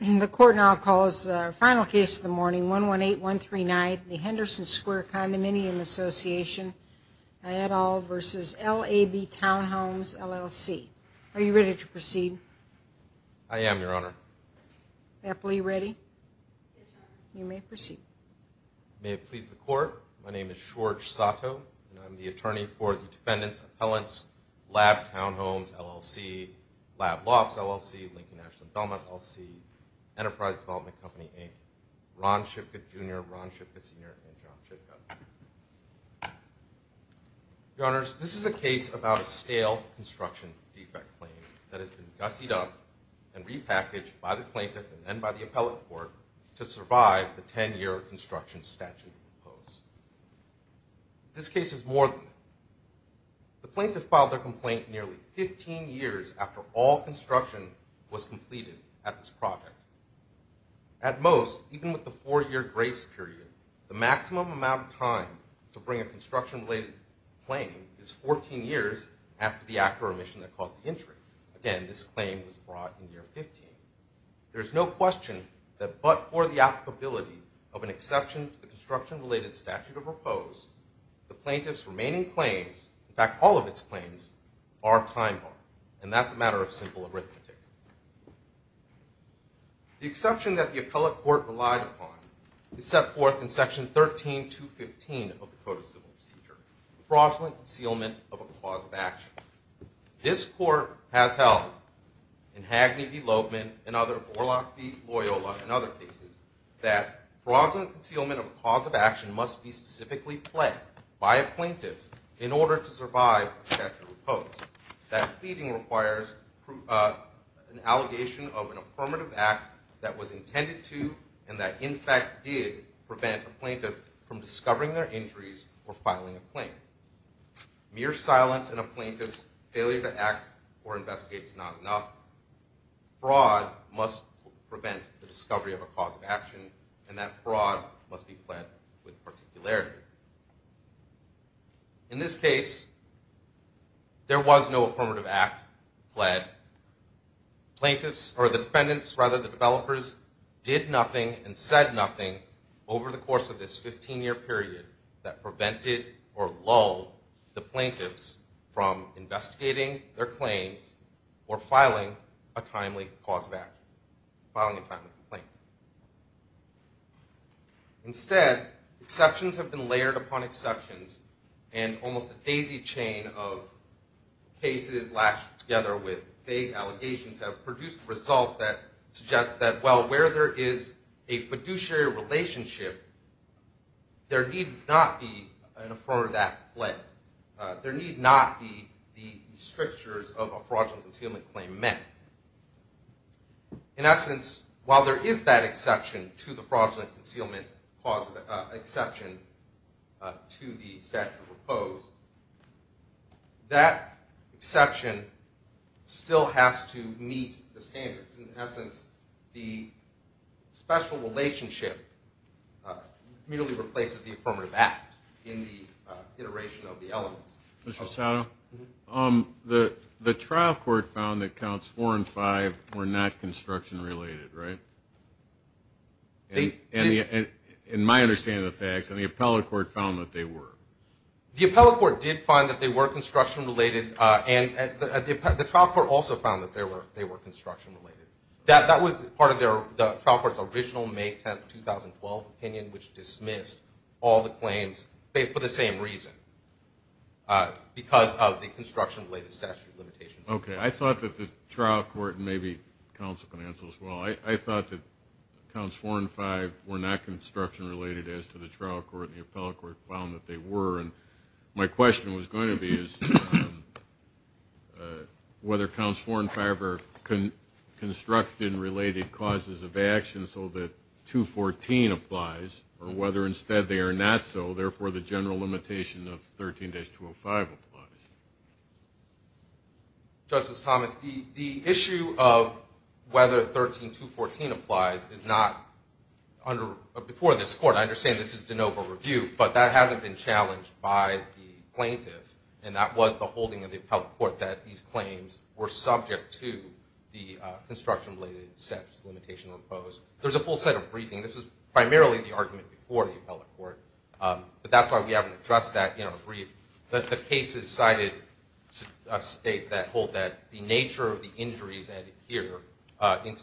And the court now calls our final case of the morning, 118139, the Henderson Square Condominium Association, et al. v. LAB Townhomes, LLC. Are you ready to proceed? I am, Your Honor. Appellee, ready? You may proceed. May it please the Court, my name is Schwartz Sato, and I'm the attorney for the Defendant's Appellant's Lab Townhomes, LLC, LAB Law Office, LLC, Lincoln National Endowment, LLC, Enterprise Development Company, Inc., Ron Shipka, Jr., Ron Shipka Sr., and John Shipka. Your Honors, this is a case about a stale construction defect claim that has been gussied up and repackaged by the plaintiff and then by the appellate court to survive the 10-year construction statute proposed. This case is more than that. The plaintiff filed their complaint nearly 15 years after all construction was completed at this project. At most, even with the four-year grace period, the maximum amount of time to bring a construction-related claim is 14 years after the act or omission that caused the injury. Again, this claim was brought in year 15. There is no question that but for the applicability of an exception to the construction-related statute as proposed, the plaintiff's remaining claims, in fact, all of its claims, are time-bound, and that's a matter of simple arithmetic. The exception that the appellate court relied upon is set forth in Section 13215 of the Code of Civil Procedure, fraudulent concealment of a cause of action. This court has held, in Hagney v. Loebman and other, Borlaug v. Loyola and other cases, that fraudulent concealment of a cause of action must be specifically pled by a plaintiff in order to survive a statute opposed, that pleading requires an allegation of an affirmative act that was intended to and that, in fact, did prevent a plaintiff from discovering their injuries or filing a claim. Mere silence in a plaintiff's failure to act or investigate is not enough. Fraud must prevent the discovery of a cause of action, and that fraud must be pled with particularity. In this case, there was no affirmative act pled. Plaintiffs, or the defendants, rather, the developers, did nothing and said nothing over the course of this 15-year period that prevented or lulled the plaintiffs from investigating their claims or filing a timely cause of action, filing a timely complaint. Instead, exceptions have been layered upon exceptions, and almost a daisy chain of cases latched together with vague allegations have produced a result that suggests that, well, where there is a fiduciary relationship, there need not be an affirmative act pled. There need not be the strictures of a fraudulent concealment claim met. In essence, while there is that exception to the fraudulent concealment exception to the statute proposed, that exception still has to meet the standards. In essence, the special relationship merely replaces the affirmative act in the iteration of the elements. Mr. Sato, the trial court found that counts four and five were not construction-related, right? In my understanding of the facts, and the appellate court found that they were. The appellate court did find that they were construction-related, and the trial court also found that they were construction-related. That was part of the trial court's original May 10, 2012, opinion, which dismissed all the claims for the same reason, because of the construction-related statute limitations. Okay. I thought that the trial court and maybe counsel can answer this as well. I thought that counts four and five were not construction-related, as to the trial court and the appellate court found that they were. And my question was going to be is whether counts four and five were construction-related causes of action so that 214 applies, or whether instead they are not so, therefore the general limitation of 13-205 applies. Justice Thomas, the issue of whether 13214 applies is not under or before this court. I understand this is de novo review, but that hasn't been challenged by the plaintiff, and that was the holding of the appellate court, that these claims were subject to the construction-related statute limitations imposed. There's a full set of briefings. This was primarily the argument before the appellate court, but that's why we haven't addressed that in our brief. The cases cited state that the nature of the injuries added here in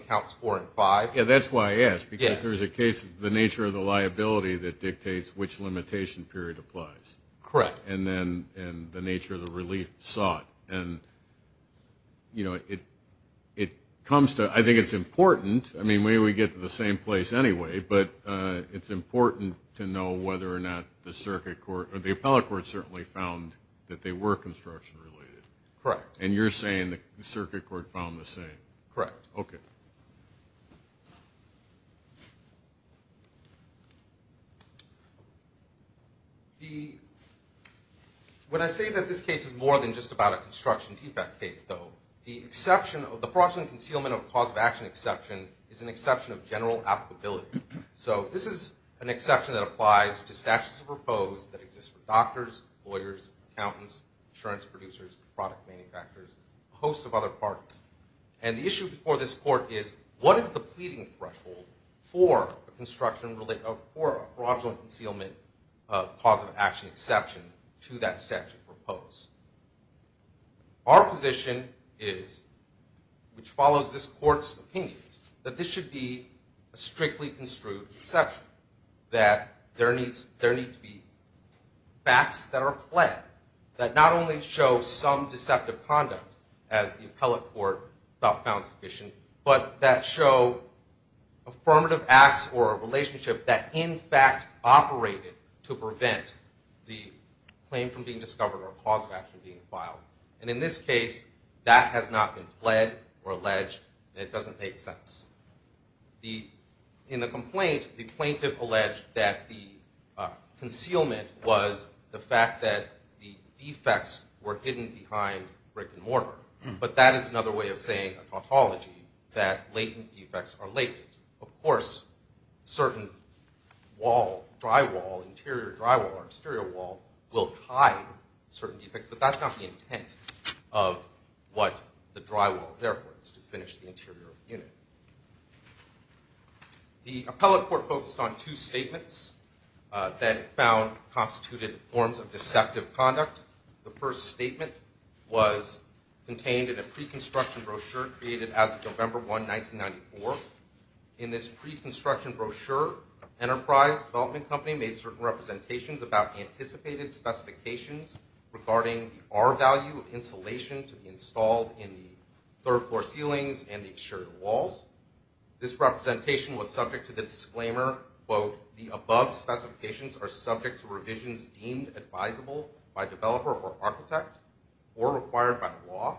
counts four and five. Yeah, that's why I asked, because there's a case, the nature of the liability that dictates which limitation period applies. Correct. And then the nature of the relief sought. And, you know, it comes to – I think it's important. I mean, maybe we get to the same place anyway, but it's important to know whether or not the circuit court or the appellate court certainly found that they were construction-related. Correct. And you're saying the circuit court found the same. Correct. Okay. When I say that this case is more than just about a construction defect case, though, the fraudulent concealment of cause of action exception is an exception of general applicability. So this is an exception that applies to statutes of propose that exist for doctors, lawyers, accountants, insurance producers, product manufacturers, a host of other parties. And the issue before this court is, what is the pleading threshold for a fraudulent concealment of cause of action exception to that statute propose? Our position is, which follows this court's opinions, that this should be a strictly construed exception, that there need to be facts that are clear, that not only show some deceptive conduct, as the appellate court found sufficient, but that show affirmative acts or a relationship that, in fact, operated to prevent the claim from being discovered or cause of action being filed. And in this case, that has not been pled or alleged, and it doesn't make sense. In the complaint, the plaintiff alleged that the concealment was the fact that the defects were hidden behind brick and mortar. But that is another way of saying, a tautology, that latent defects are latent. Of course, certain wall, drywall, interior drywall or exterior wall will hide certain defects, but that's not the intent of what the drywall is there for. It's to finish the interior unit. The appellate court focused on two statements that found constituted forms of deceptive conduct. The first statement was contained in a pre-construction brochure created as of November 1, 1994. In this pre-construction brochure, Enterprise Development Company made certain representations about anticipated specifications regarding the R-value of insulation to be installed in the third-floor ceilings and the exterior walls. This representation was subject to the disclaimer, quote, the above specifications are subject to revisions deemed advisable by developer or architect or required by law.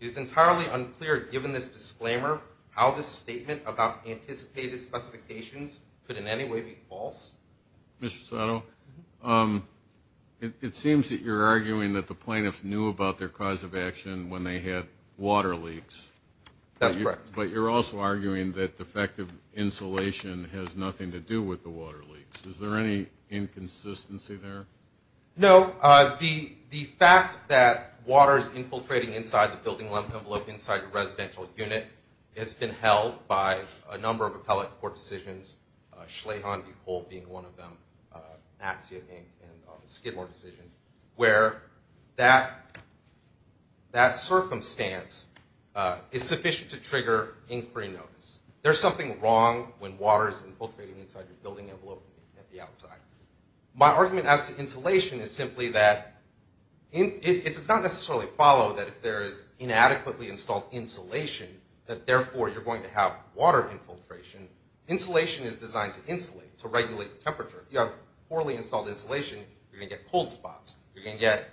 It is entirely unclear, given this disclaimer, how this statement about anticipated specifications could in any way be false. Mr. Soto, it seems that you're arguing that the plaintiffs knew about their cause of action when they had water leaks. That's correct. But you're also arguing that defective insulation has nothing to do with the water leaks. Is there any inconsistency there? No. The fact that water is infiltrating inside the building lump envelope inside the residential unit has been held by a number of appellate court decisions, Schleyhan v. Cole being one of them, Maxey v. Inc. and the Skidmore decision, where that circumstance is sufficient to trigger inquiry notice. There's something wrong when water is infiltrating inside your building envelope at the outside. My argument as to insulation is simply that it does not necessarily follow that if there is inadequately installed insulation, that therefore you're going to have water infiltration. Insulation is designed to insulate, to regulate temperature. If you have poorly installed insulation, you're going to get cold spots. You're going to get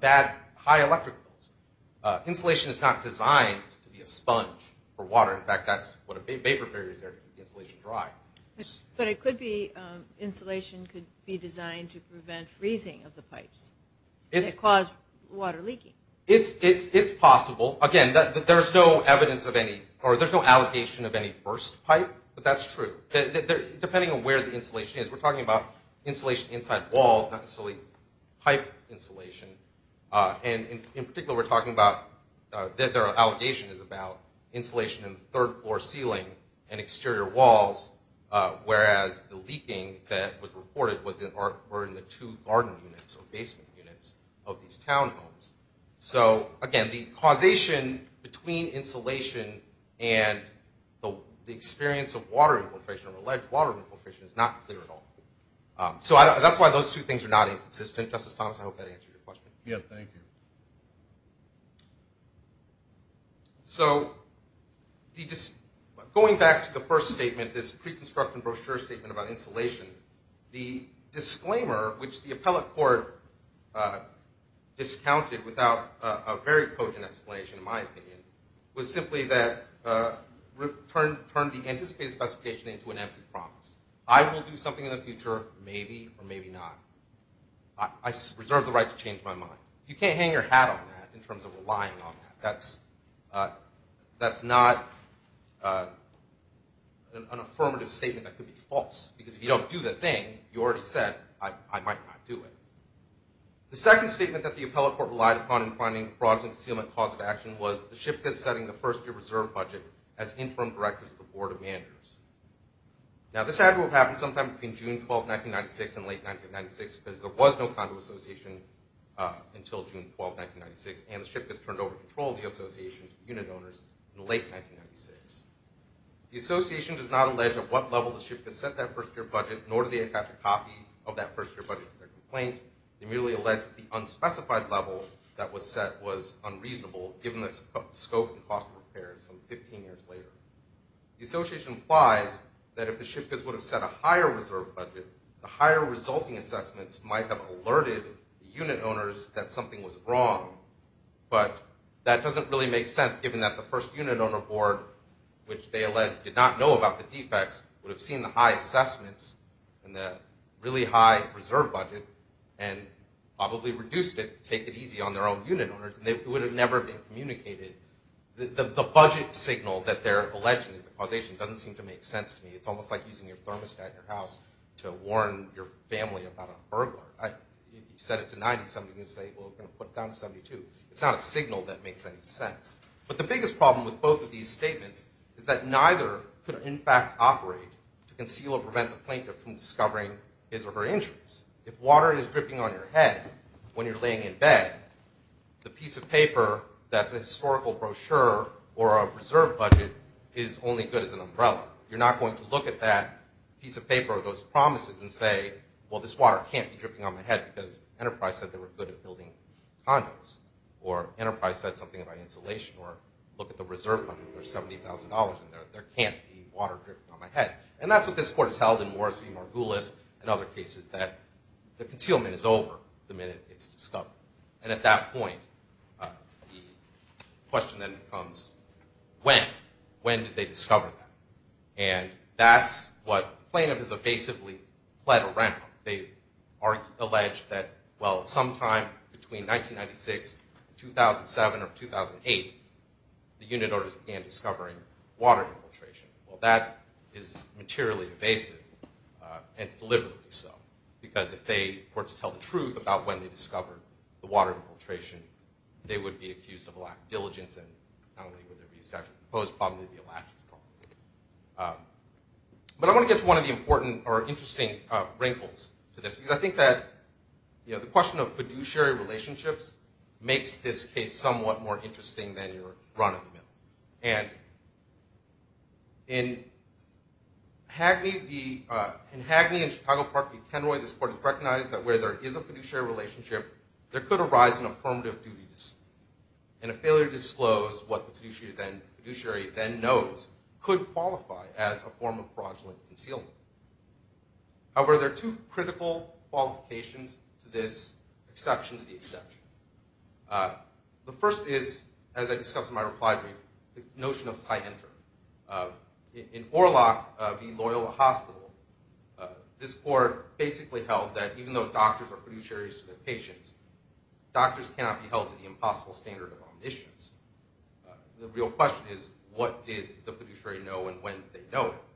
bad, high electric bills. Insulation is not designed to be a sponge for water. In fact, that's what a vapor barrier is there to keep insulation dry. But it could be insulation could be designed to prevent freezing of the pipes that cause water leaking. It's possible. Again, there's no evidence of any, or there's no allegation of any burst pipe, but that's true. Depending on where the insulation is, we're talking about insulation inside walls, not necessarily pipe insulation. And in particular, we're talking about, their allegation is about insulation in third floor ceiling and exterior walls, whereas the leaking that was reported were in the two garden units or basement units of these townhomes. So again, the causation between insulation and the experience of water infiltration or alleged water infiltration is not clear at all. So that's why those two things are not inconsistent. Justice Thomas, I hope that answered your question. Yeah, thank you. So going back to the first statement, this pre-construction brochure statement about insulation, the disclaimer, which the appellate court discounted without a very potent explanation, in my opinion, was simply that it turned the anticipated specification into an empty promise. I will do something in the future, maybe or maybe not. I reserve the right to change my mind. You can't hang your hat on that in terms of relying on that. That's not an affirmative statement that could be false, because if you don't do the thing, you already said, I might not do it. The second statement that the appellate court relied upon in finding fraudulent concealment cause of action was the SHPCAS setting the first year reserve budget as interim directors of the board of managers. Now, this had to have happened sometime between June 12, 1996 and late 1996, because there was no condo association until June 12, 1996, and the SHPCAS turned over control of the association to unit owners in late 1996. The association does not allege at what level the SHPCAS set that first year budget, nor do they attach a copy of that first year budget to their complaint. They merely allege that the unspecified level that was set was unreasonable, given the scope and cost of repairs some 15 years later. The association implies that if the SHPCAS would have set a higher reserve budget, the higher resulting assessments might have alerted unit owners that something was wrong, but that doesn't really make sense, given that the first unit owner board, which they allege did not know about the defects, would have seen the high assessments and the really high reserve budget and probably reduced it, take it easy on their own unit owners, and it would have never been communicated. The budget signal that they're alleging is the causation doesn't seem to make sense to me. It's almost like using your thermostat in your house to warn your family about a burglar. If you set it to 90, somebody's going to say, well, we're going to put it down to 72. It's not a signal that makes any sense. But the biggest problem with both of these statements is that neither could in fact operate to conceal or prevent the plaintiff from discovering his or her injuries. If water is dripping on your head when you're laying in bed, the piece of paper that's a historical brochure or a reserve budget is only good as an umbrella. You're not going to look at that piece of paper or those promises and say, well, this water can't be dripping on my head because Enterprise said they were good at building condos or Enterprise said something about insulation or look at the reserve budget. There's $70,000 in there. There can't be water dripping on my head. And that's what this court has held in Morris v. Margulis and other cases, that the concealment is over the minute it's discovered. And at that point, the question then becomes, when? When did they discover that? And that's what the plaintiff has evasively pled around. They allege that, well, sometime between 1996 and 2007 or 2008, the unit orders began discovering water infiltration. Well, that is materially evasive, and it's deliberately so, because if they were to tell the truth about when they discovered the water infiltration, they would be accused of lack of diligence and not only would there be a statute of limitations, but there would probably be a lack of development. But I want to get to one of the important or interesting wrinkles to this, because I think that the question of fiduciary relationships makes this case somewhat more interesting than your run-of-the-mill. And in Hagney v. Chicago Park v. Kenroy, this court has recognized that where there is a fiduciary relationship, there could arise an affirmative duty, and a failure to disclose what the fiduciary then knows could qualify as a form of fraudulent concealment. However, there are two critical qualifications to this exception to the exception. The first is, as I discussed in my reply brief, the notion of scienter. In Orlock v. Loyola Hospital, this court basically held that even though doctors are fiduciaries to their patients, doctors cannot be held to the impossible standard of omniscience. The real question is, what did the fiduciary know and when did they know it?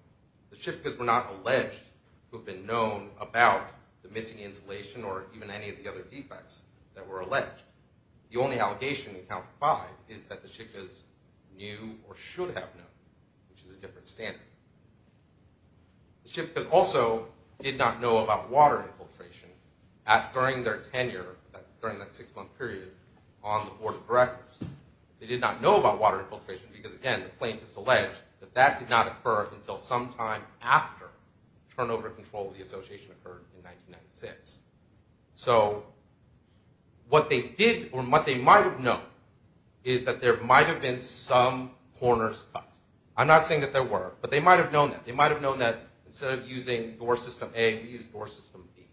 The Shickas were not alleged to have been known about the missing insulation or even any of the other defects that were alleged. The only allegation in count five is that the Shickas knew or should have known, which is a different standard. The Shickas also did not know about water infiltration. During their tenure, that's during that six-month period on the Board of Directors, they did not know about water infiltration because, again, the plaintiffs alleged that that did not occur until sometime after turnover control of the association occurred in 1996. So, what they did or what they might have known is that there might have been some corners cut. I'm not saying that there were, but they might have known that. They might have known that instead of using Door System A, we used Door System B,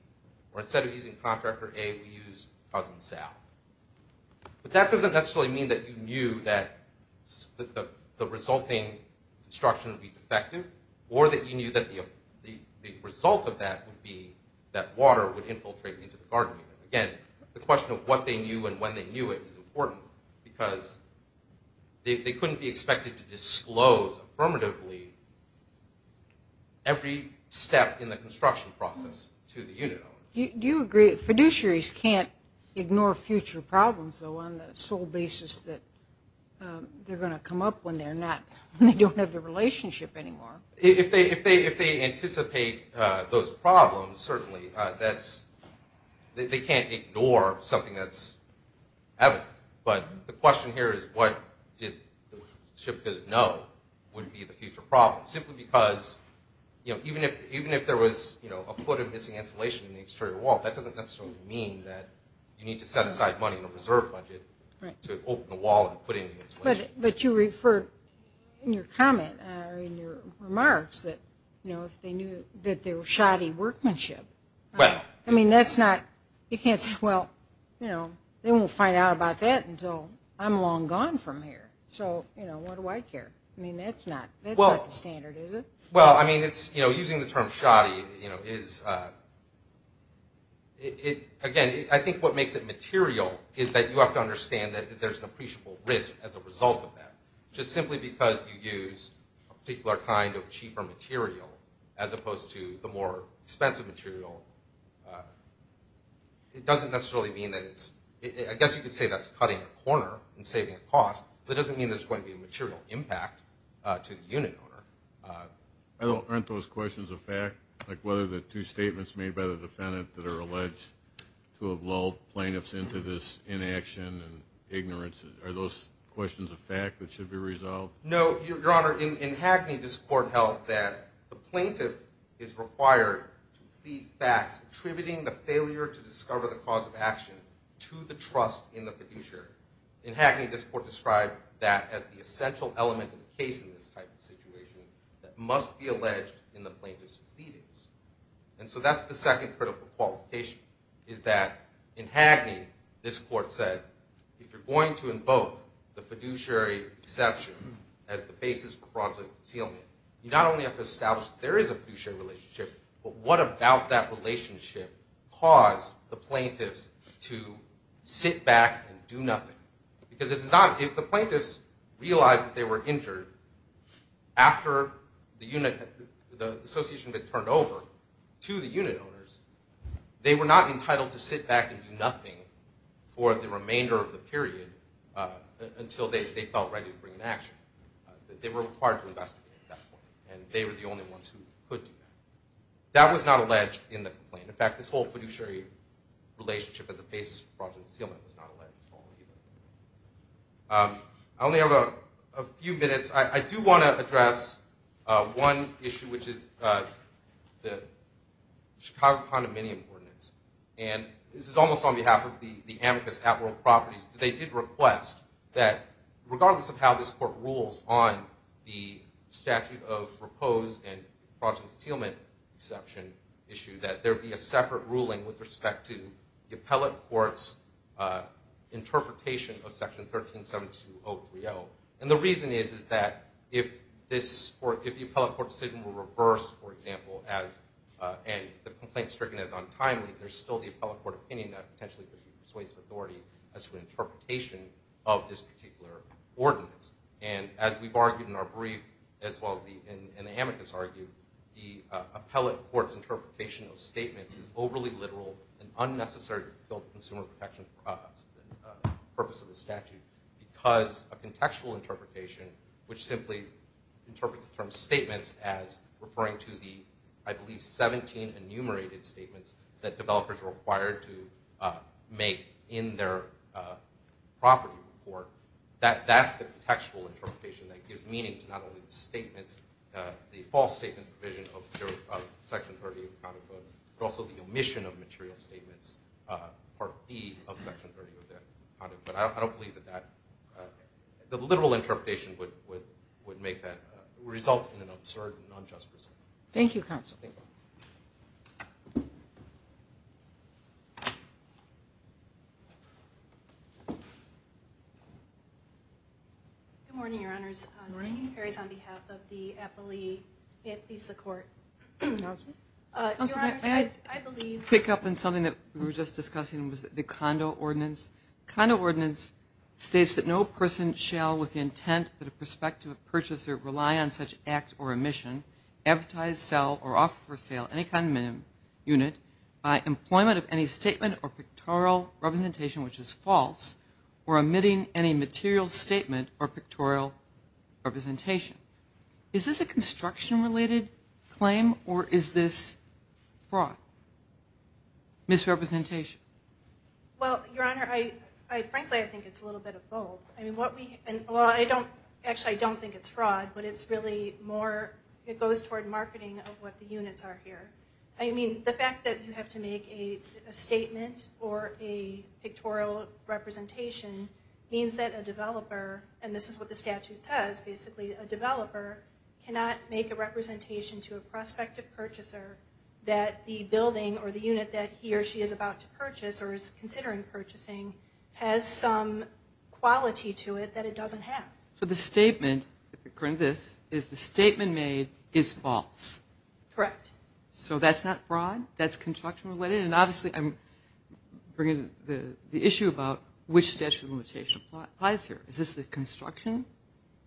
or instead of using Contractor A, we used Cousin Sal. But that doesn't necessarily mean that you knew that the resulting construction would be defective or that you knew that the result of that would be that water would infiltrate into the garden unit. Again, the question of what they knew and when they knew it is important because they couldn't be expected to disclose affirmatively every step in the construction process to the unit owner. Do you agree that fiduciaries can't ignore future problems, though, on the sole basis that they're going to come up when they don't have the relationship anymore? If they anticipate those problems, certainly, they can't ignore something that's evident. But the question here is what the workmanship does know would be the future problem, simply because even if there was a foot of missing insulation in the exterior wall, that doesn't necessarily mean that you need to set aside money in the reserve budget to open the wall and put in the insulation. But you referred in your comment or in your remarks that if they knew that they were shoddy workmanship. I mean, that's not, you can't say, well, you know, they won't find out about that until I'm long gone from here. So, you know, what do I care? I mean, that's not the standard, is it? Well, I mean, it's, you know, using the term shoddy, you know, is, again, I think what makes it material is that you have to understand that there's an appreciable risk as a result of that. Just simply because you use a particular kind of cheaper material as opposed to the more expensive material, it doesn't necessarily mean that it's, I guess you could say that's cutting a corner and saving a cost, but it doesn't mean there's going to be a material impact to the unit owner. Aren't those questions of fact, like whether the two statements made by the defendant that are alleged to have lulled plaintiffs into this inaction and ignorance, are those questions of fact that should be resolved? No, Your Honor, in Hagney, this Court held that the plaintiff is required to plead facts attributing the failure to discover the cause of action to the trust in the producer. In Hagney, this Court described that as the essential element of the case in this type of situation that must be alleged in the plaintiff's pleadings. And so that's the second critical qualification, is that in Hagney, this Court said, if you're going to invoke the fiduciary exception as the basis for fraudulent concealment, you not only have to establish that there is a fiduciary relationship, but what about that relationship caused the plaintiffs to sit back and do nothing? Because if the plaintiffs realized that they were injured after the association had been turned over to the unit owners, they were not entitled to sit back and do nothing for the remainder of the period until they felt ready to bring an action. They were required to investigate at that point, and they were the only ones who could do that. That was not alleged in the complaint. In fact, this whole fiduciary relationship as a basis for fraudulent concealment was not alleged at all either. I only have a few minutes. I do want to address one issue, which is the Chicago condominium ordinance. And this is almost on behalf of the amicus at World Properties. They did request that regardless of how this Court rules on the statute of proposed and fraudulent concealment exception issue, that there be a separate ruling with respect to the appellate court's interpretation of Section 1372030. And the reason is that if the appellate court's decision were reversed, for example, and the complaint is stricken as untimely, there is still the appellate court opinion that potentially persuades the authority as to an interpretation of this particular ordinance. And as we've argued in our brief, as well as in the amicus argue, the appellate court's interpretation of statements is overly literal and unnecessary to fulfill the purpose of the statute because a contextual interpretation, which simply interprets the term statements as referring to the, I believe, 17 enumerated statements that developers are required to make in their property report, that's the contextual interpretation that gives meaning to not only the false statements provision of Section 1372030, but also the omission of material statements, Part B of Section 1372030. But I don't believe that the literal interpretation would result in an absurd and unjust result. Thank you. Good morning, Your Honors. Good morning. Jean Perry is on behalf of the appellate court. Councilor? Your Honors, I believe- I had to pick up on something that we were just discussing was the condo ordinance. The condo ordinance states that no person shall, with the intent that a prospective purchaser rely on such act or omission, advertise, sell, or offer for sale any kind of unit by employment of any statement or pictorial representation, which is false, or omitting any material statement or pictorial representation. Is this a construction-related claim, or is this fraud, misrepresentation? Well, Your Honor, frankly, I think it's a little bit of both. I mean, what we- well, I don't- actually, I don't think it's fraud, but it's really more- it goes toward marketing of what the units are here. I mean, the fact that you have to make a statement or a pictorial representation means that a developer- and this is what the statute says, basically- a developer cannot make a representation to a prospective purchaser that the building or the unit that he or she is about to purchase or is considering purchasing has some quality to it that it doesn't have. So the statement, according to this, is the statement made is false. Correct. So that's not fraud? That's construction-related? And obviously, I'm bringing the issue about which statute of limitation applies here. Is this the construction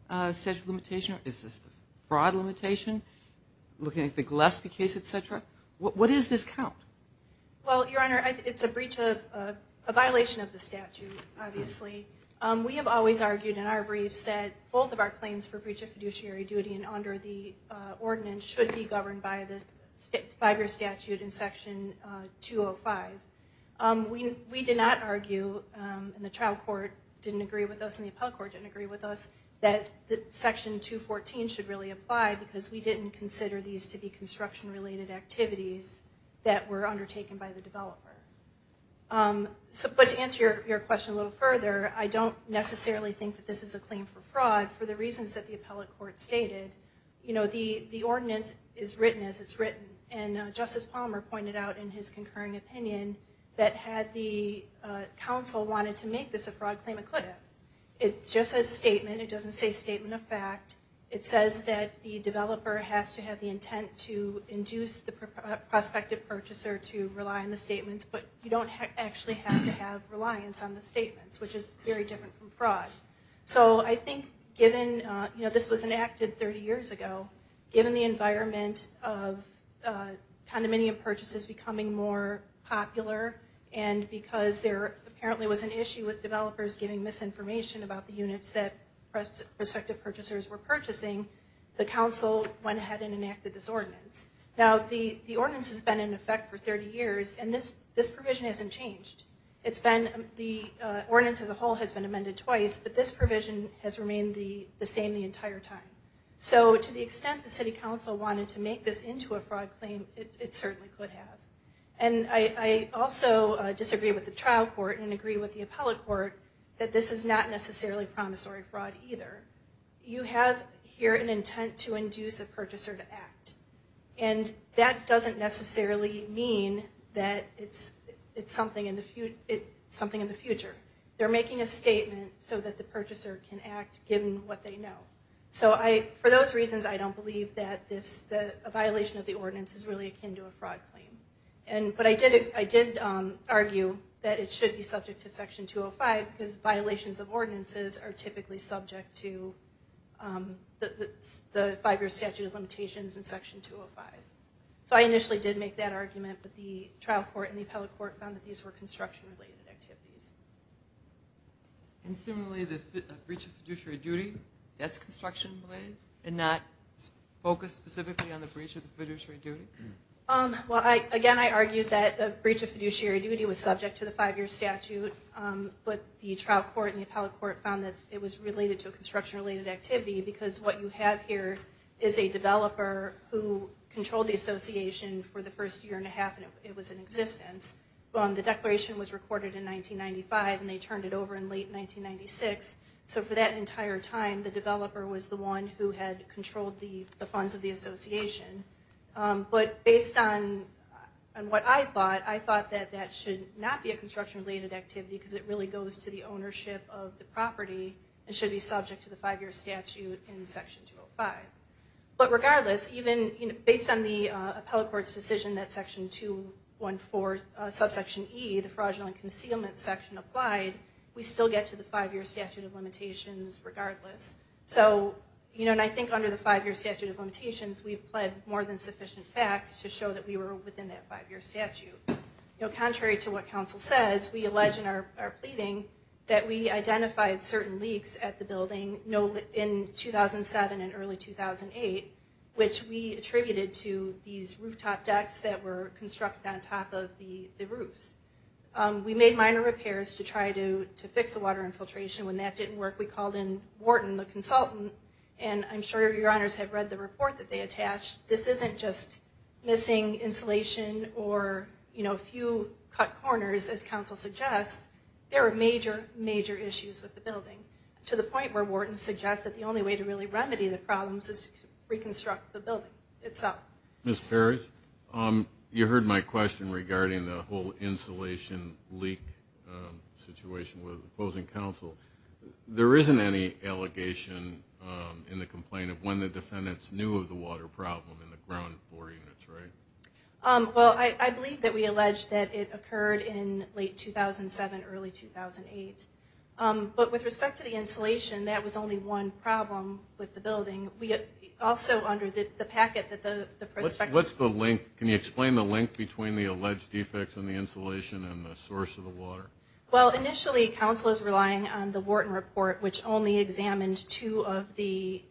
statute of limitation, or is this the fraud limitation, looking at the Gillespie case, et cetera? What does this count? Well, Your Honor, it's a breach of- a violation of the statute, obviously. We have always argued in our briefs that both of our claims for breach of fiduciary duty and under the ordinance should be governed by the five-year statute in Section 205. We did not argue, and the trial court didn't agree with us and the appellate court didn't agree with us, that Section 214 should really apply because we didn't consider these to be construction-related activities that were undertaken by the developer. But to answer your question a little further, I don't necessarily think that this is a claim for fraud for the reasons that the appellate court stated. You know, the ordinance is written as it's written, and Justice Palmer pointed out in his concurring opinion that had the counsel wanted to make this a fraud claim, it could have. It's just a statement. It doesn't say statement of fact. It says that the developer has to have the intent to induce the prospective purchaser to rely on the statements, but you don't actually have to have reliance on the statements, which is very different from fraud. So I think given, you know, this was enacted 30 years ago, given the environment of condominium purchases becoming more popular and because there apparently was an issue with developers giving misinformation about the units that prospective purchasers were purchasing, the counsel went ahead and enacted this ordinance. Now, the ordinance has been in effect for 30 years, and this provision hasn't changed. The ordinance as a whole has been amended twice, but this provision has remained the same the entire time. So to the extent the city counsel wanted to make this into a fraud claim, it certainly could have. And I also disagree with the trial court and agree with the appellate court that this is not necessarily promissory fraud either. You have here an intent to induce a purchaser to act, and that doesn't necessarily mean that it's something in the future. They're making a statement so that the purchaser can act given what they know. So for those reasons, I don't believe that a violation of the ordinance is really akin to a fraud claim. But I did argue that it should be subject to Section 205 because violations of ordinances are typically subject to the five-year statute of limitations in Section 205. So I initially did make that argument, but the trial court and the appellate court found that these were construction-related activities. And similarly, the breach of fiduciary duty, that's construction-related and not focused specifically on the breach of the fiduciary duty? Again, I argued that the breach of fiduciary duty was subject to the five-year statute, but the trial court and the appellate court found that it was related to a construction-related activity because what you have here is a developer who controlled the association for the first year and a half, and it was in existence. The declaration was recorded in 1995, and they turned it over in late 1996. So for that entire time, the developer was the one who had controlled the funds of the association. But based on what I thought, I thought that that should not be a construction-related activity because it really goes to the ownership of the property and should be subject to the five-year statute in Section 205. But regardless, even based on the appellate court's decision that Section 214, subsection E, the fraudulent concealment section, applied, we still get to the five-year statute of limitations regardless. So I think under the five-year statute of limitations, we've pled more than sufficient facts to show that we were within that five-year statute. Contrary to what counsel says, we allege in our pleading that we identified certain leaks at the building in 2007 and early 2008, which we attributed to these rooftop decks that were constructed on top of the roofs. We made minor repairs to try to fix the water infiltration. When that didn't work, we called in Wharton, the consultant, and I'm sure your honors have read the report that they attached. This isn't just missing insulation or, you know, a few cut corners, as counsel suggests. There are major, major issues with the building to the point where Wharton suggests that the only way to really remedy the problems is to reconstruct the building itself. Ms. Ferris, you heard my question regarding the whole insulation leak situation with opposing counsel. There isn't any allegation in the complaint of when the defendants knew of the water problem in the ground floor units, right? Well, I believe that we allege that it occurred in late 2007, early 2008. But with respect to the insulation, that was only one problem with the building. Also, under the packet that the prospectus- What's the link? Can you explain the link between the alleged defects in the insulation and the source of the water? Well, initially, counsel is relying on the Wharton report, which only examined two of the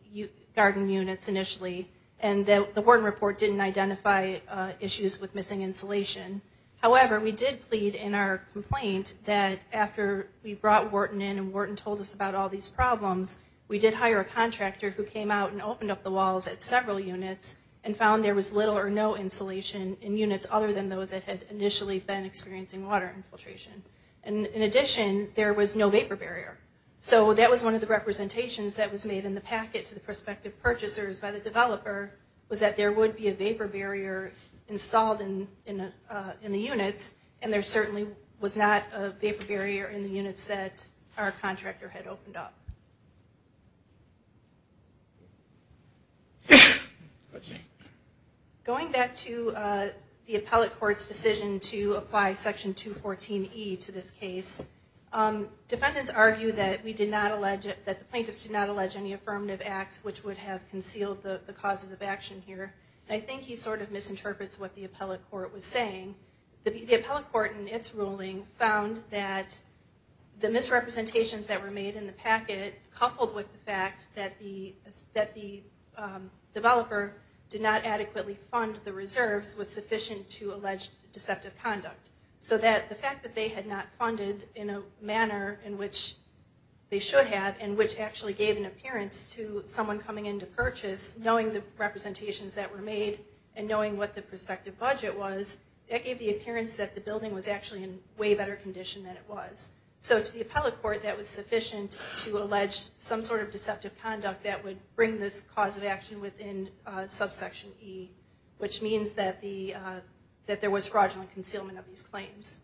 garden units initially, and the Wharton report didn't identify issues with missing insulation. However, we did plead in our complaint that after we brought Wharton in and Wharton told us about all these problems, we did hire a contractor who came out and opened up the walls at several units and found there was little or no insulation in units other than those that had initially been experiencing water infiltration. And in addition, there was no vapor barrier. So that was one of the representations that was made in the packet to the prospective purchasers by the developer, was that there would be a vapor barrier installed in the units, and there certainly was not a vapor barrier in the units that our contractor had opened up. Going back to the appellate court's decision to apply Section 214E to this case, defendants argue that the plaintiffs did not allege any affirmative acts which would have concealed the causes of action here. I think he sort of misinterprets what the appellate court was saying. The appellate court in its ruling found that the misrepresentations that were made in the packet, coupled with the fact that the developer did not adequately fund the reserves, was sufficient to allege deceptive conduct. So that the fact that they had not funded in a manner in which they should have, and which actually gave an appearance to someone coming in to purchase, knowing the representations that were made and knowing what the prospective budget was, that gave the appearance that the building was actually in way better condition than it was. So to the appellate court, that was sufficient to allege some sort of deceptive conduct that would bring this cause of action within subsection E, which means that there was fraudulent concealment of these claims.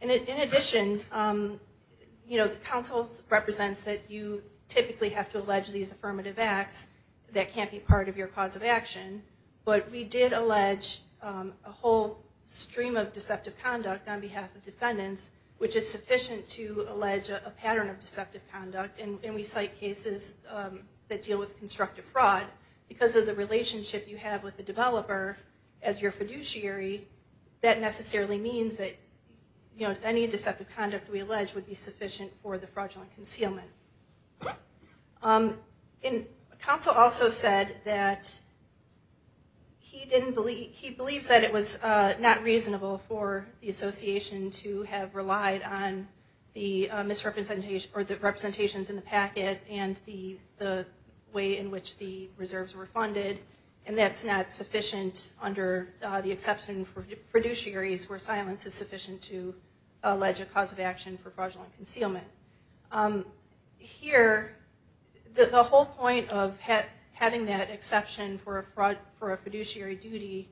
In addition, the counsel represents that you typically have to allege these affirmative acts that can't be part of your cause of action. But we did allege a whole stream of deceptive conduct on behalf of defendants, which is sufficient to allege a pattern of deceptive conduct. And we cite cases that deal with constructive fraud. Because of the relationship you have with the developer as your fiduciary, that necessarily means that any deceptive conduct we allege would be sufficient for the fraudulent concealment. Counsel also said that he believes that it was not reasonable for the association to have relied on the representations in the packet and the way in which the reserves were funded, and that's not sufficient under the exception for fiduciaries where silence is sufficient to allege a cause of action for fraudulent concealment. Here, the whole point of having that exception for a fiduciary duty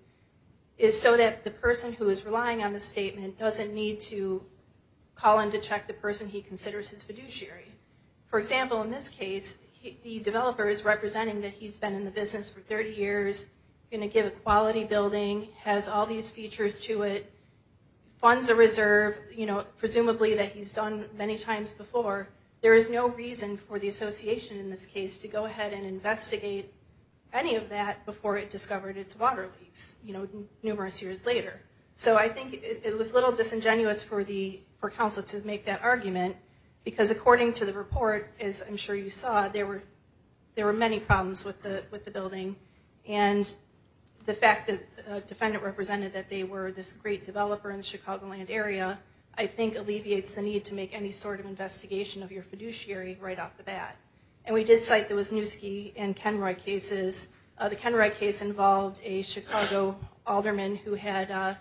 is so that the person who is relying on the statement doesn't need to call in to check the person he considers his fiduciary. For example, in this case, the developer is representing that he's been in the business for 30 years, going to give a quality building, has all these features to it, funds a reserve, presumably that he's done many times before. There is no reason for the association in this case to go ahead and investigate any of that before it discovered its water leaks numerous years later. So I think it was a little disingenuous for counsel to make that argument, because according to the report, as I'm sure you saw, there were many problems with the building. And the fact that a defendant represented that they were this great developer in the Chicagoland area, I think alleviates the need to make any sort of investigation of your fiduciary right off the bat. And we did cite there was Noosky and Kenroy cases. The Kenroy case involved a Chicago alderman who had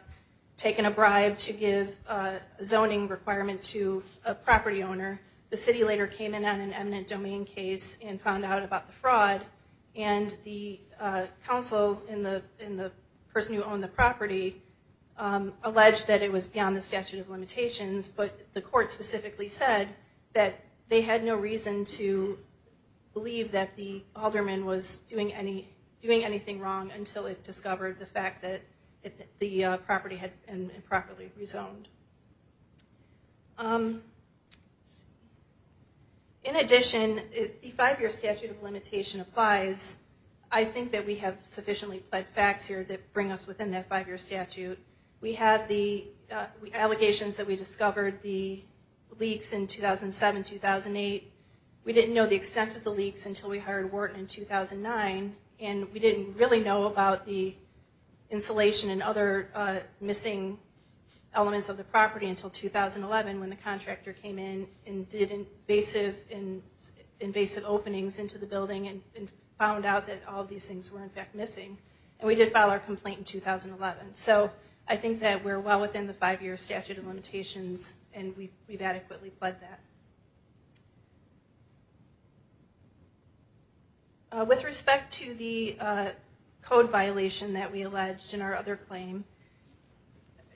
taken a bribe to give a zoning requirement to a property owner. The city later came in on an eminent domain case and found out about the fraud, and the counsel and the person who owned the property alleged that it was beyond the statute of limitations, but the court specifically said that they had no reason to believe that the alderman was doing anything wrong until it discovered the fact that the property had been improperly rezoned. In addition, if the five-year statute of limitation applies, I think that we have sufficiently plaid facts here that bring us within that five-year statute. We have the allegations that we discovered the leaks in 2007-2008. We didn't know the extent of the leaks until we hired Wharton in 2009, and we didn't really know about the insulation and other missing elements of the property until 2011 when the contractor came in and did invasive openings into the building and found out that all of these things were in fact missing. And we did file our complaint in 2011. So I think that we're well within the five-year statute of limitations, and we've adequately plaid that. With respect to the code violation that we alleged in our other claim,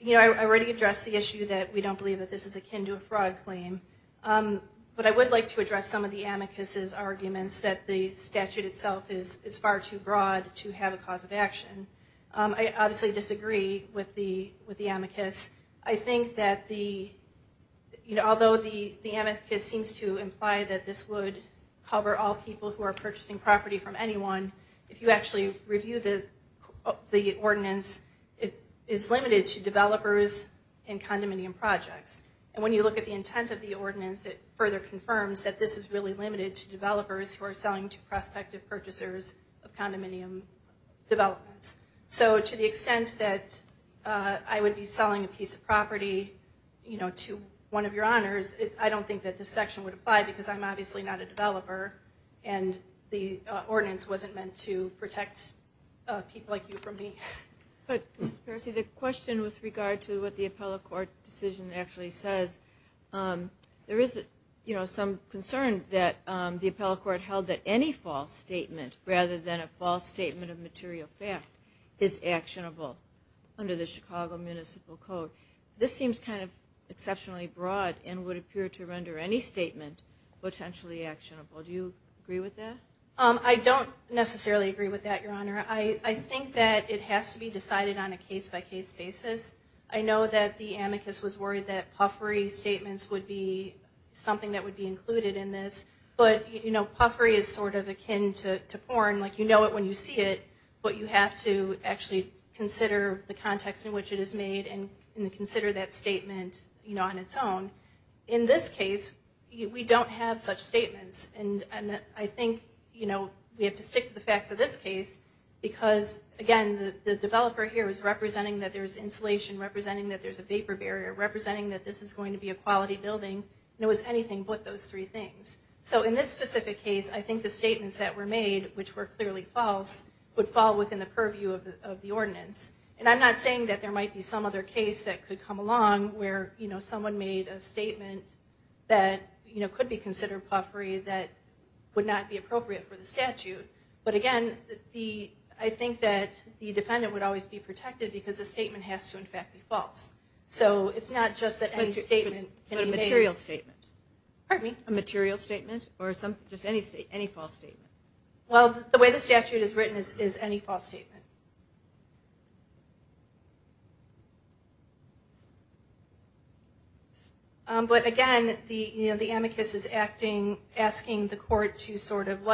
I already addressed the issue that we don't believe that this is akin to a fraud claim, but I would like to address some of the amicus's arguments that the statute itself is far too broad to have a cause of action. I obviously disagree with the amicus. I think that although the amicus seems to imply that this would cover all people who are purchasing property from anyone, if you actually review the ordinance, it is limited to developers and condominium projects. And when you look at the intent of the ordinance, it further confirms that this is really limited to developers who are selling to prospective purchasers of condominium developments. So to the extent that I would be selling a piece of property to one of your honors, I don't think that this section would apply because I'm obviously not a developer, and the ordinance wasn't meant to protect people like you from me. But, Ms. Percy, the question with regard to what the appellate court decision actually says, there is some concern that the appellate court held that any false statement rather than a false statement of material fact is actionable under the Chicago Municipal Code. This seems kind of exceptionally broad and would appear to render any statement potentially actionable. Do you agree with that? I don't necessarily agree with that, Your Honor. I think that it has to be decided on a case-by-case basis. I know that the amicus was worried that puffery statements would be something that would be included in this, but puffery is sort of akin to porn. You know it when you see it, but you have to actually consider the context in which it is made and consider that statement on its own. In this case, we don't have such statements, and I think we have to stick to the facts of this case because, again, the developer here is representing that there's insulation, representing that there's a vapor barrier, representing that this is going to be a quality building, and it was anything but those three things. So in this specific case, I think the statements that were made, which were clearly false, would fall within the purview of the ordinance. And I'm not saying that there might be some other case that could come along where, you know, someone made a statement that, you know, could be considered puffery that would not be appropriate for the statute. But, again, I think that the defendant would always be protected because the statement has to, in fact, be false. So it's not just that any statement can be made. But a material statement. Pardon me? A material statement or just any false statement. Well, the way the statute is written is any false statement. But, again, you know, the amicus is asking the court to sort of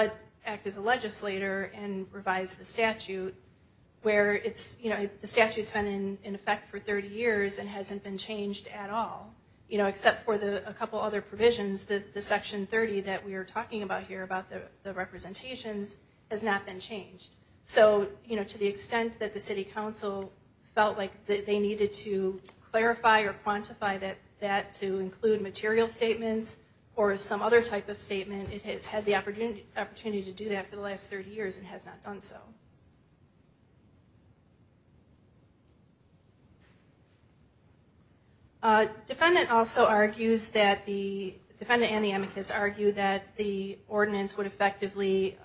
act as a legislator and revise the statute where it's, you know, the statute's been in effect for 30 years and hasn't been changed at all. You know, except for a couple other provisions, the section 30 that we are talking about here, about the representations, has not been changed. So, you know, to the extent that the city council felt like they needed to clarify or quantify that to include material statements or some other type of statement, it has had the opportunity to do that for the last 30 years and has not done so. Defendant also argues that the defendant and the amicus argue that the ordinance would effectively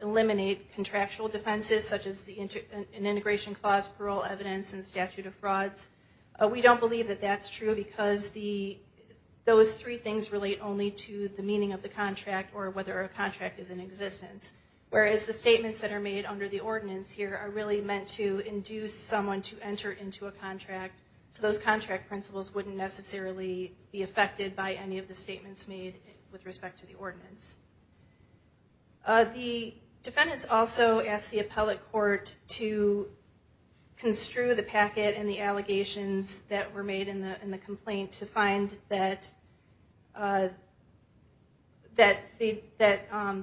eliminate contractual defenses such as an integration clause, parole evidence, and statute of frauds. We don't believe that that's true because those three things relate only to the meaning of the contract or whether a contract is in existence, whereas the statements that are made under the ordinance here are really meant to induce someone to enter into a contract. So those contract principles wouldn't necessarily be affected by any of the statements made with respect to the ordinance. The defendants also asked the appellate court to construe the packet and the allegations that were made in the complaint to find that the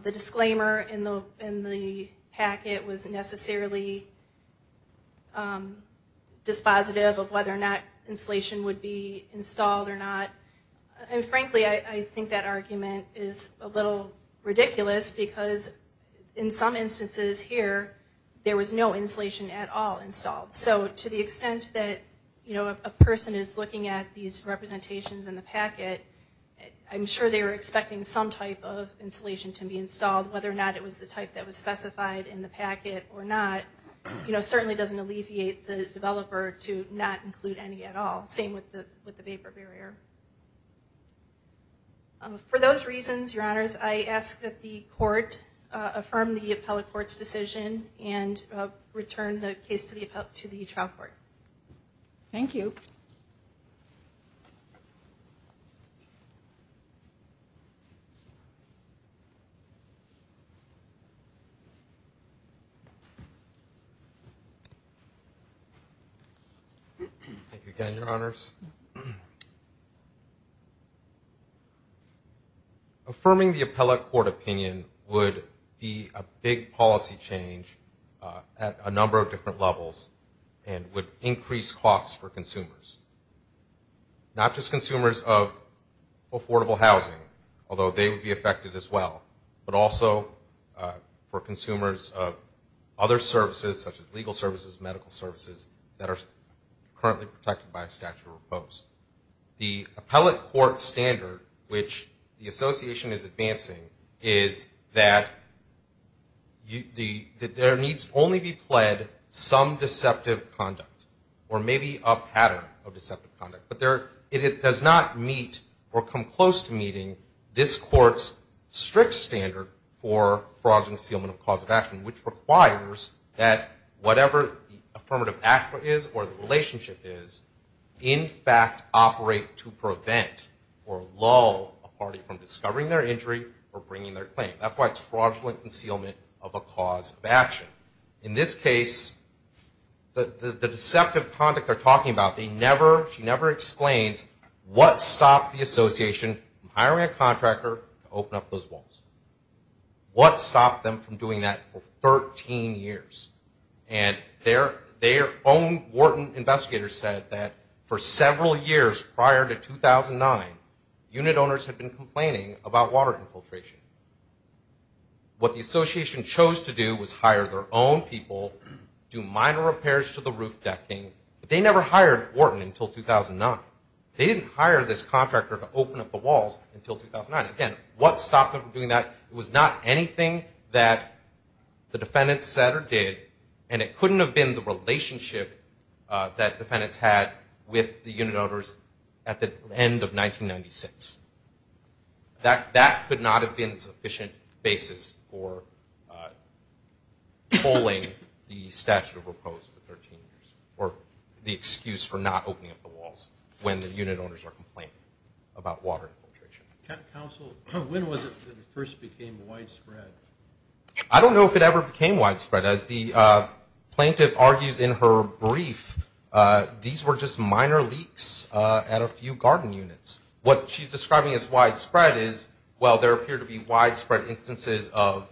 disclaimer in the packet was necessarily dispositive of whether or not insulation would be installed or not. Frankly, I think that argument is a little ridiculous because in some instances here, there was no insulation at all installed. So to the extent that a person is looking at these representations in the packet, I'm sure they were expecting some type of insulation to be installed. Whether or not it was the type that was specified in the packet or not certainly doesn't alleviate the developer to not include any at all. Same with the vapor barrier. For those reasons, Your Honors, I ask that the court affirm the appellate court's decision and return the case to the trial court. Thank you. Thank you again, Your Honors. Affirming the appellate court opinion would be a big policy change at a number of different levels and would increase costs for consumers. Not just consumers of affordable housing, although they would be affected as well, but also for consumers of other services, such as legal services, medical services, that are currently protected by a statute of repose. The appellate court standard, which the Association is advancing, is that there needs only be pled some deceptive conduct or maybe a pattern of deceptive conduct. But it does not meet or come close to meeting this court's strict standard for fraudulent concealment of cause of action, which requires that whatever the affirmative act is or the relationship is, in fact operate to prevent or lull a party from discovering their injury or bringing their claim. That's why it's fraudulent concealment of a cause of action. In this case, the deceptive conduct they're talking about, she never explains what stopped the Association from hiring a contractor to open up those walls. What stopped them from doing that for 13 years? And their own Wharton investigators said that for several years prior to 2009, unit owners had been complaining about water infiltration. What the Association chose to do was hire their own people, do minor repairs to the roof decking, but they never hired Wharton until 2009. They didn't hire this contractor to open up the walls until 2009. Again, what stopped them from doing that? It was not anything that the defendants said or did, and it couldn't have been the relationship that defendants had with the unit owners at the end of 1996. That could not have been a sufficient basis for pulling the statute of repose for 13 years or the excuse for not opening up the walls when the unit owners are complaining about water infiltration. Counsel, when was it that it first became widespread? I don't know if it ever became widespread. As the plaintiff argues in her brief, these were just minor leaks at a few garden units. What she's describing as widespread is, well, there appear to be widespread instances of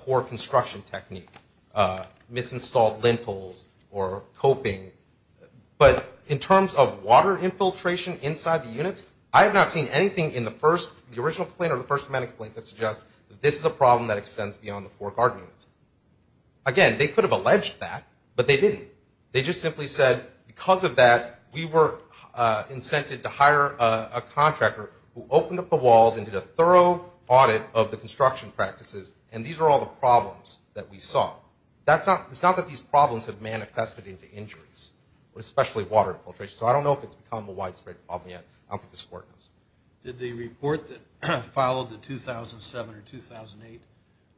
poor construction technique, misinstalled lintels or coping. But in terms of water infiltration inside the units, I have not seen anything in the first, the original complaint or the first medical complaint, that suggests that this is a problem that extends beyond the four garden units. Again, they could have alleged that, but they didn't. They just simply said, because of that, we were incented to hire a contractor who opened up the walls and did a thorough audit of the construction practices, and these are all the problems that we saw. It's not that these problems have manifested into injuries, especially water infiltration. So I don't know if it's become a widespread problem yet. I don't think the court knows. Did the report that followed the 2007 or 2008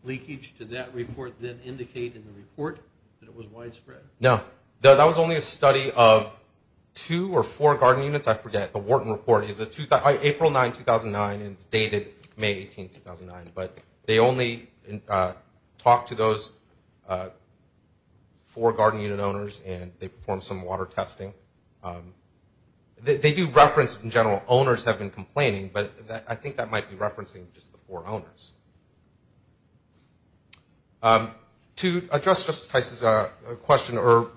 leakage, did that report then indicate in the report that it was widespread? No. That was only a study of two or four garden units. I forget. The Wharton report is April 9, 2009, and it's dated May 18, 2009. But they only talked to those four garden unit owners, and they performed some water testing. They do reference, in general, owners have been complaining, but I think that might be referencing just the four owners. To address Justice Tice's question or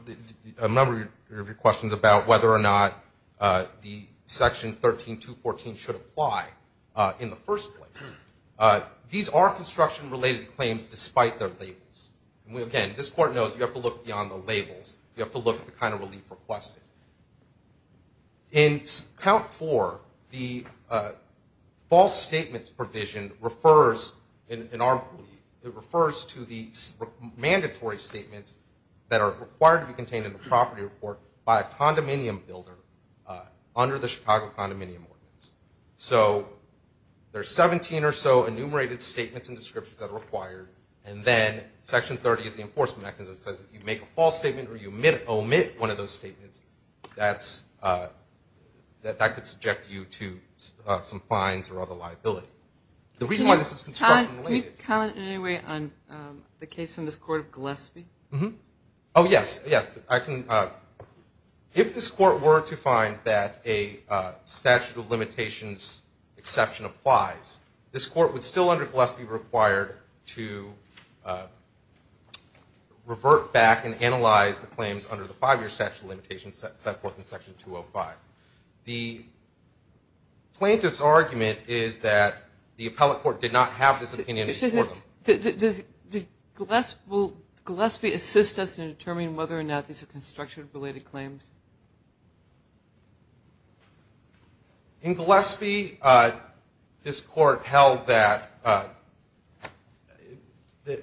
a number of your questions about whether or not the Section 13214 should apply in the first place, these are construction-related claims despite their labels. And, again, this court knows you have to look beyond the labels. You have to look at the kind of relief requested. In Count 4, the false statements provision refers, in our belief, it refers to the mandatory statements that are required to be contained in the property report by a condominium builder under the Chicago Condominium Ordinance. So there are 17 or so enumerated statements and descriptions that are required, and then Section 30 is the enforcement mechanism that says if you make a false statement or you omit one of those statements, that could subject you to some fines or other liability. The reason why this is construction-related. Can you comment in any way on the case from this Court of Gillespie? Oh, yes. If this Court were to find that a statute of limitations exception applies, this Court would still under Gillespie be required to revert back and analyze the claims under the five-year statute of limitations set forth in Section 205. The plaintiff's argument is that the appellate court did not have this opinion. Does Gillespie assist us in determining whether or not these are construction-related claims? In Gillespie, this Court held that –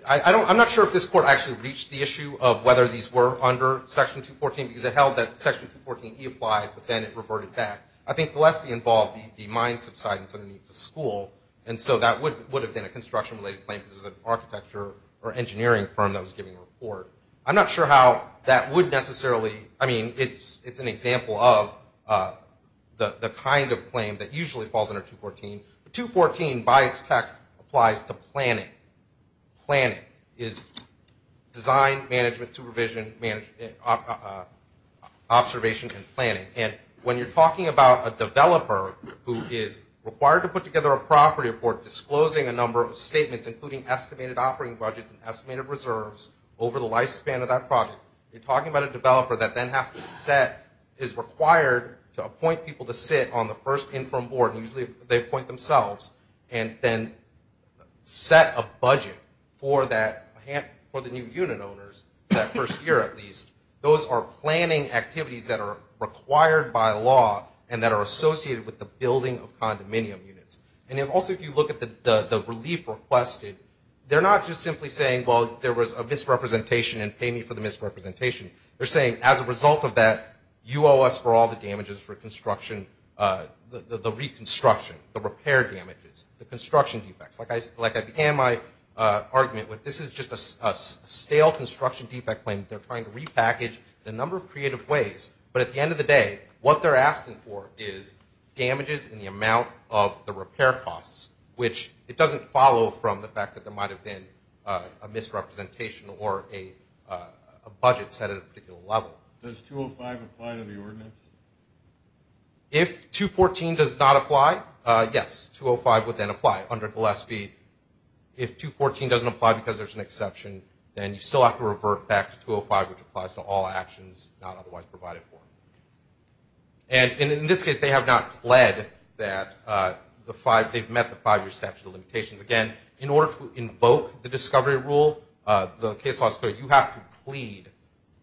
I'm not sure if this Court actually reached the issue of whether these were under Section 214 because it held that Section 214E applied, but then it reverted back. I think Gillespie involved the mine subsidence underneath the school, and so that would have been a construction-related claim because it was an architecture or engineering firm that was giving the report. I'm not sure how that would necessarily – I mean, it's an example of the kind of claim that usually falls under 214. But 214, by its text, applies to planning. Planning is design, management, supervision, observation, and planning. And when you're talking about a developer who is required to put together a property report disclosing a number of statements, including estimated operating budgets and estimated reserves over the lifespan of that project, you're talking about a developer that then has to set – is required to appoint people to sit on the first in-firm board, and usually they appoint themselves, and then set a budget for the new unit owners that first year at least. Those are planning activities that are required by law and that are associated with the building of condominium units. And then also if you look at the relief requested, they're not just simply saying, well, there was a misrepresentation and pay me for the misrepresentation. They're saying, as a result of that, you owe us for all the damages for construction – the reconstruction, the repair damages, the construction defects. Like I began my argument with, this is just a stale construction defect claim. They're trying to repackage it in a number of creative ways. But at the end of the day, what they're asking for is damages in the amount of the repair costs, which it doesn't follow from the fact that there might have been a misrepresentation or a budget set at a particular level. Does 205 apply to the ordinance? If 214 does not apply, yes, 205 would then apply under Gillespie. If 214 doesn't apply because there's an exception, then you still have to revert back to 205, which applies to all actions not otherwise provided for. And in this case, they have not pled that the five – they've met the five-year statute of limitations. Again, in order to invoke the discovery rule, the case law is clear. You have to plead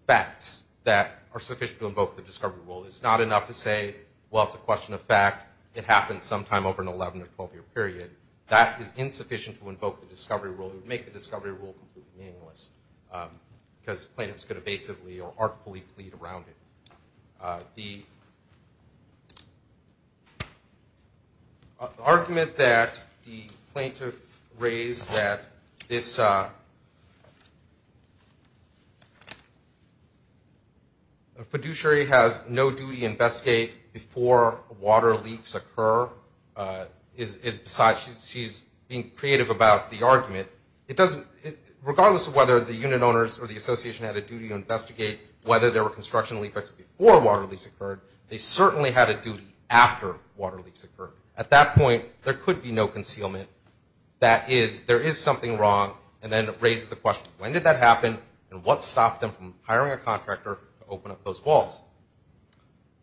facts that are sufficient to invoke the discovery rule. It's not enough to say, well, it's a question of fact, it happened sometime over an 11- or 12-year period. That is insufficient to invoke the discovery rule. It would make the discovery rule completely meaningless because plaintiffs could evasively or artfully plead around it. The argument that the plaintiff raised that this fiduciary has no duty to investigate before water leaks occur is beside – she's being creative about the argument. It doesn't – regardless of whether the unit owners or the association had a duty to investigate whether there were construction leaks before water leaks occurred, they certainly had a duty after water leaks occurred. At that point, there could be no concealment. That is, there is something wrong. And then it raises the question, when did that happen, and what stopped them from hiring a contractor to open up those walls?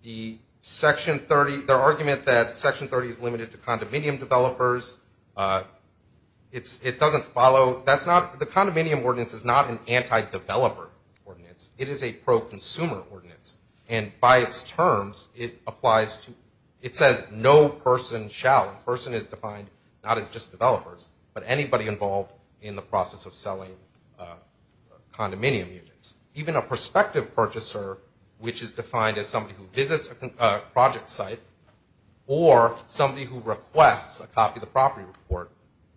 The Section 30 – their argument that Section 30 is limited to condominium developers, it doesn't follow – that's not – the condominium ordinance is not an anti-developer ordinance. It is a pro-consumer ordinance. And by its terms, it applies to – it says no person shall. Person is defined not as just developers, but anybody involved in the process of selling condominium units. Even a prospective purchaser, which is defined as somebody who visits a project site or somebody who requests a copy of the property report,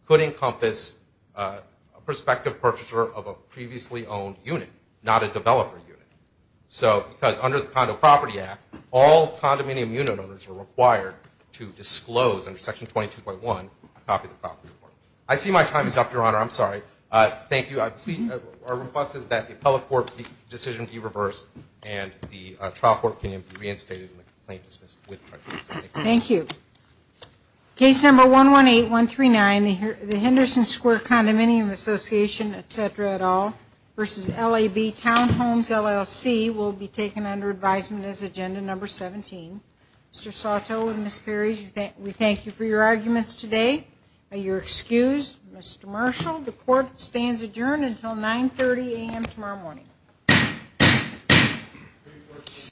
could encompass a prospective purchaser of a previously owned unit, not a developer unit. So because under the Condo Property Act, all condominium unit owners were required to disclose under Section 22.1 a copy of the property report. I see my time is up, Your Honor. I'm sorry. Thank you. Our request is that the appellate court decision be reversed and the trial court opinion be reinstated and the complaint dismissed with prejudice. Thank you. Thank you. Case number 118139, the Henderson Square Condominium Association, et cetera, et al., versus LAB Townhomes, LLC, will be taken under advisement as agenda number 17. Mr. Soto and Ms. Perry, we thank you for your arguments today. You're excused. Mr. Marshall, the court stands adjourned until 9.30 a.m. tomorrow morning. Thank you.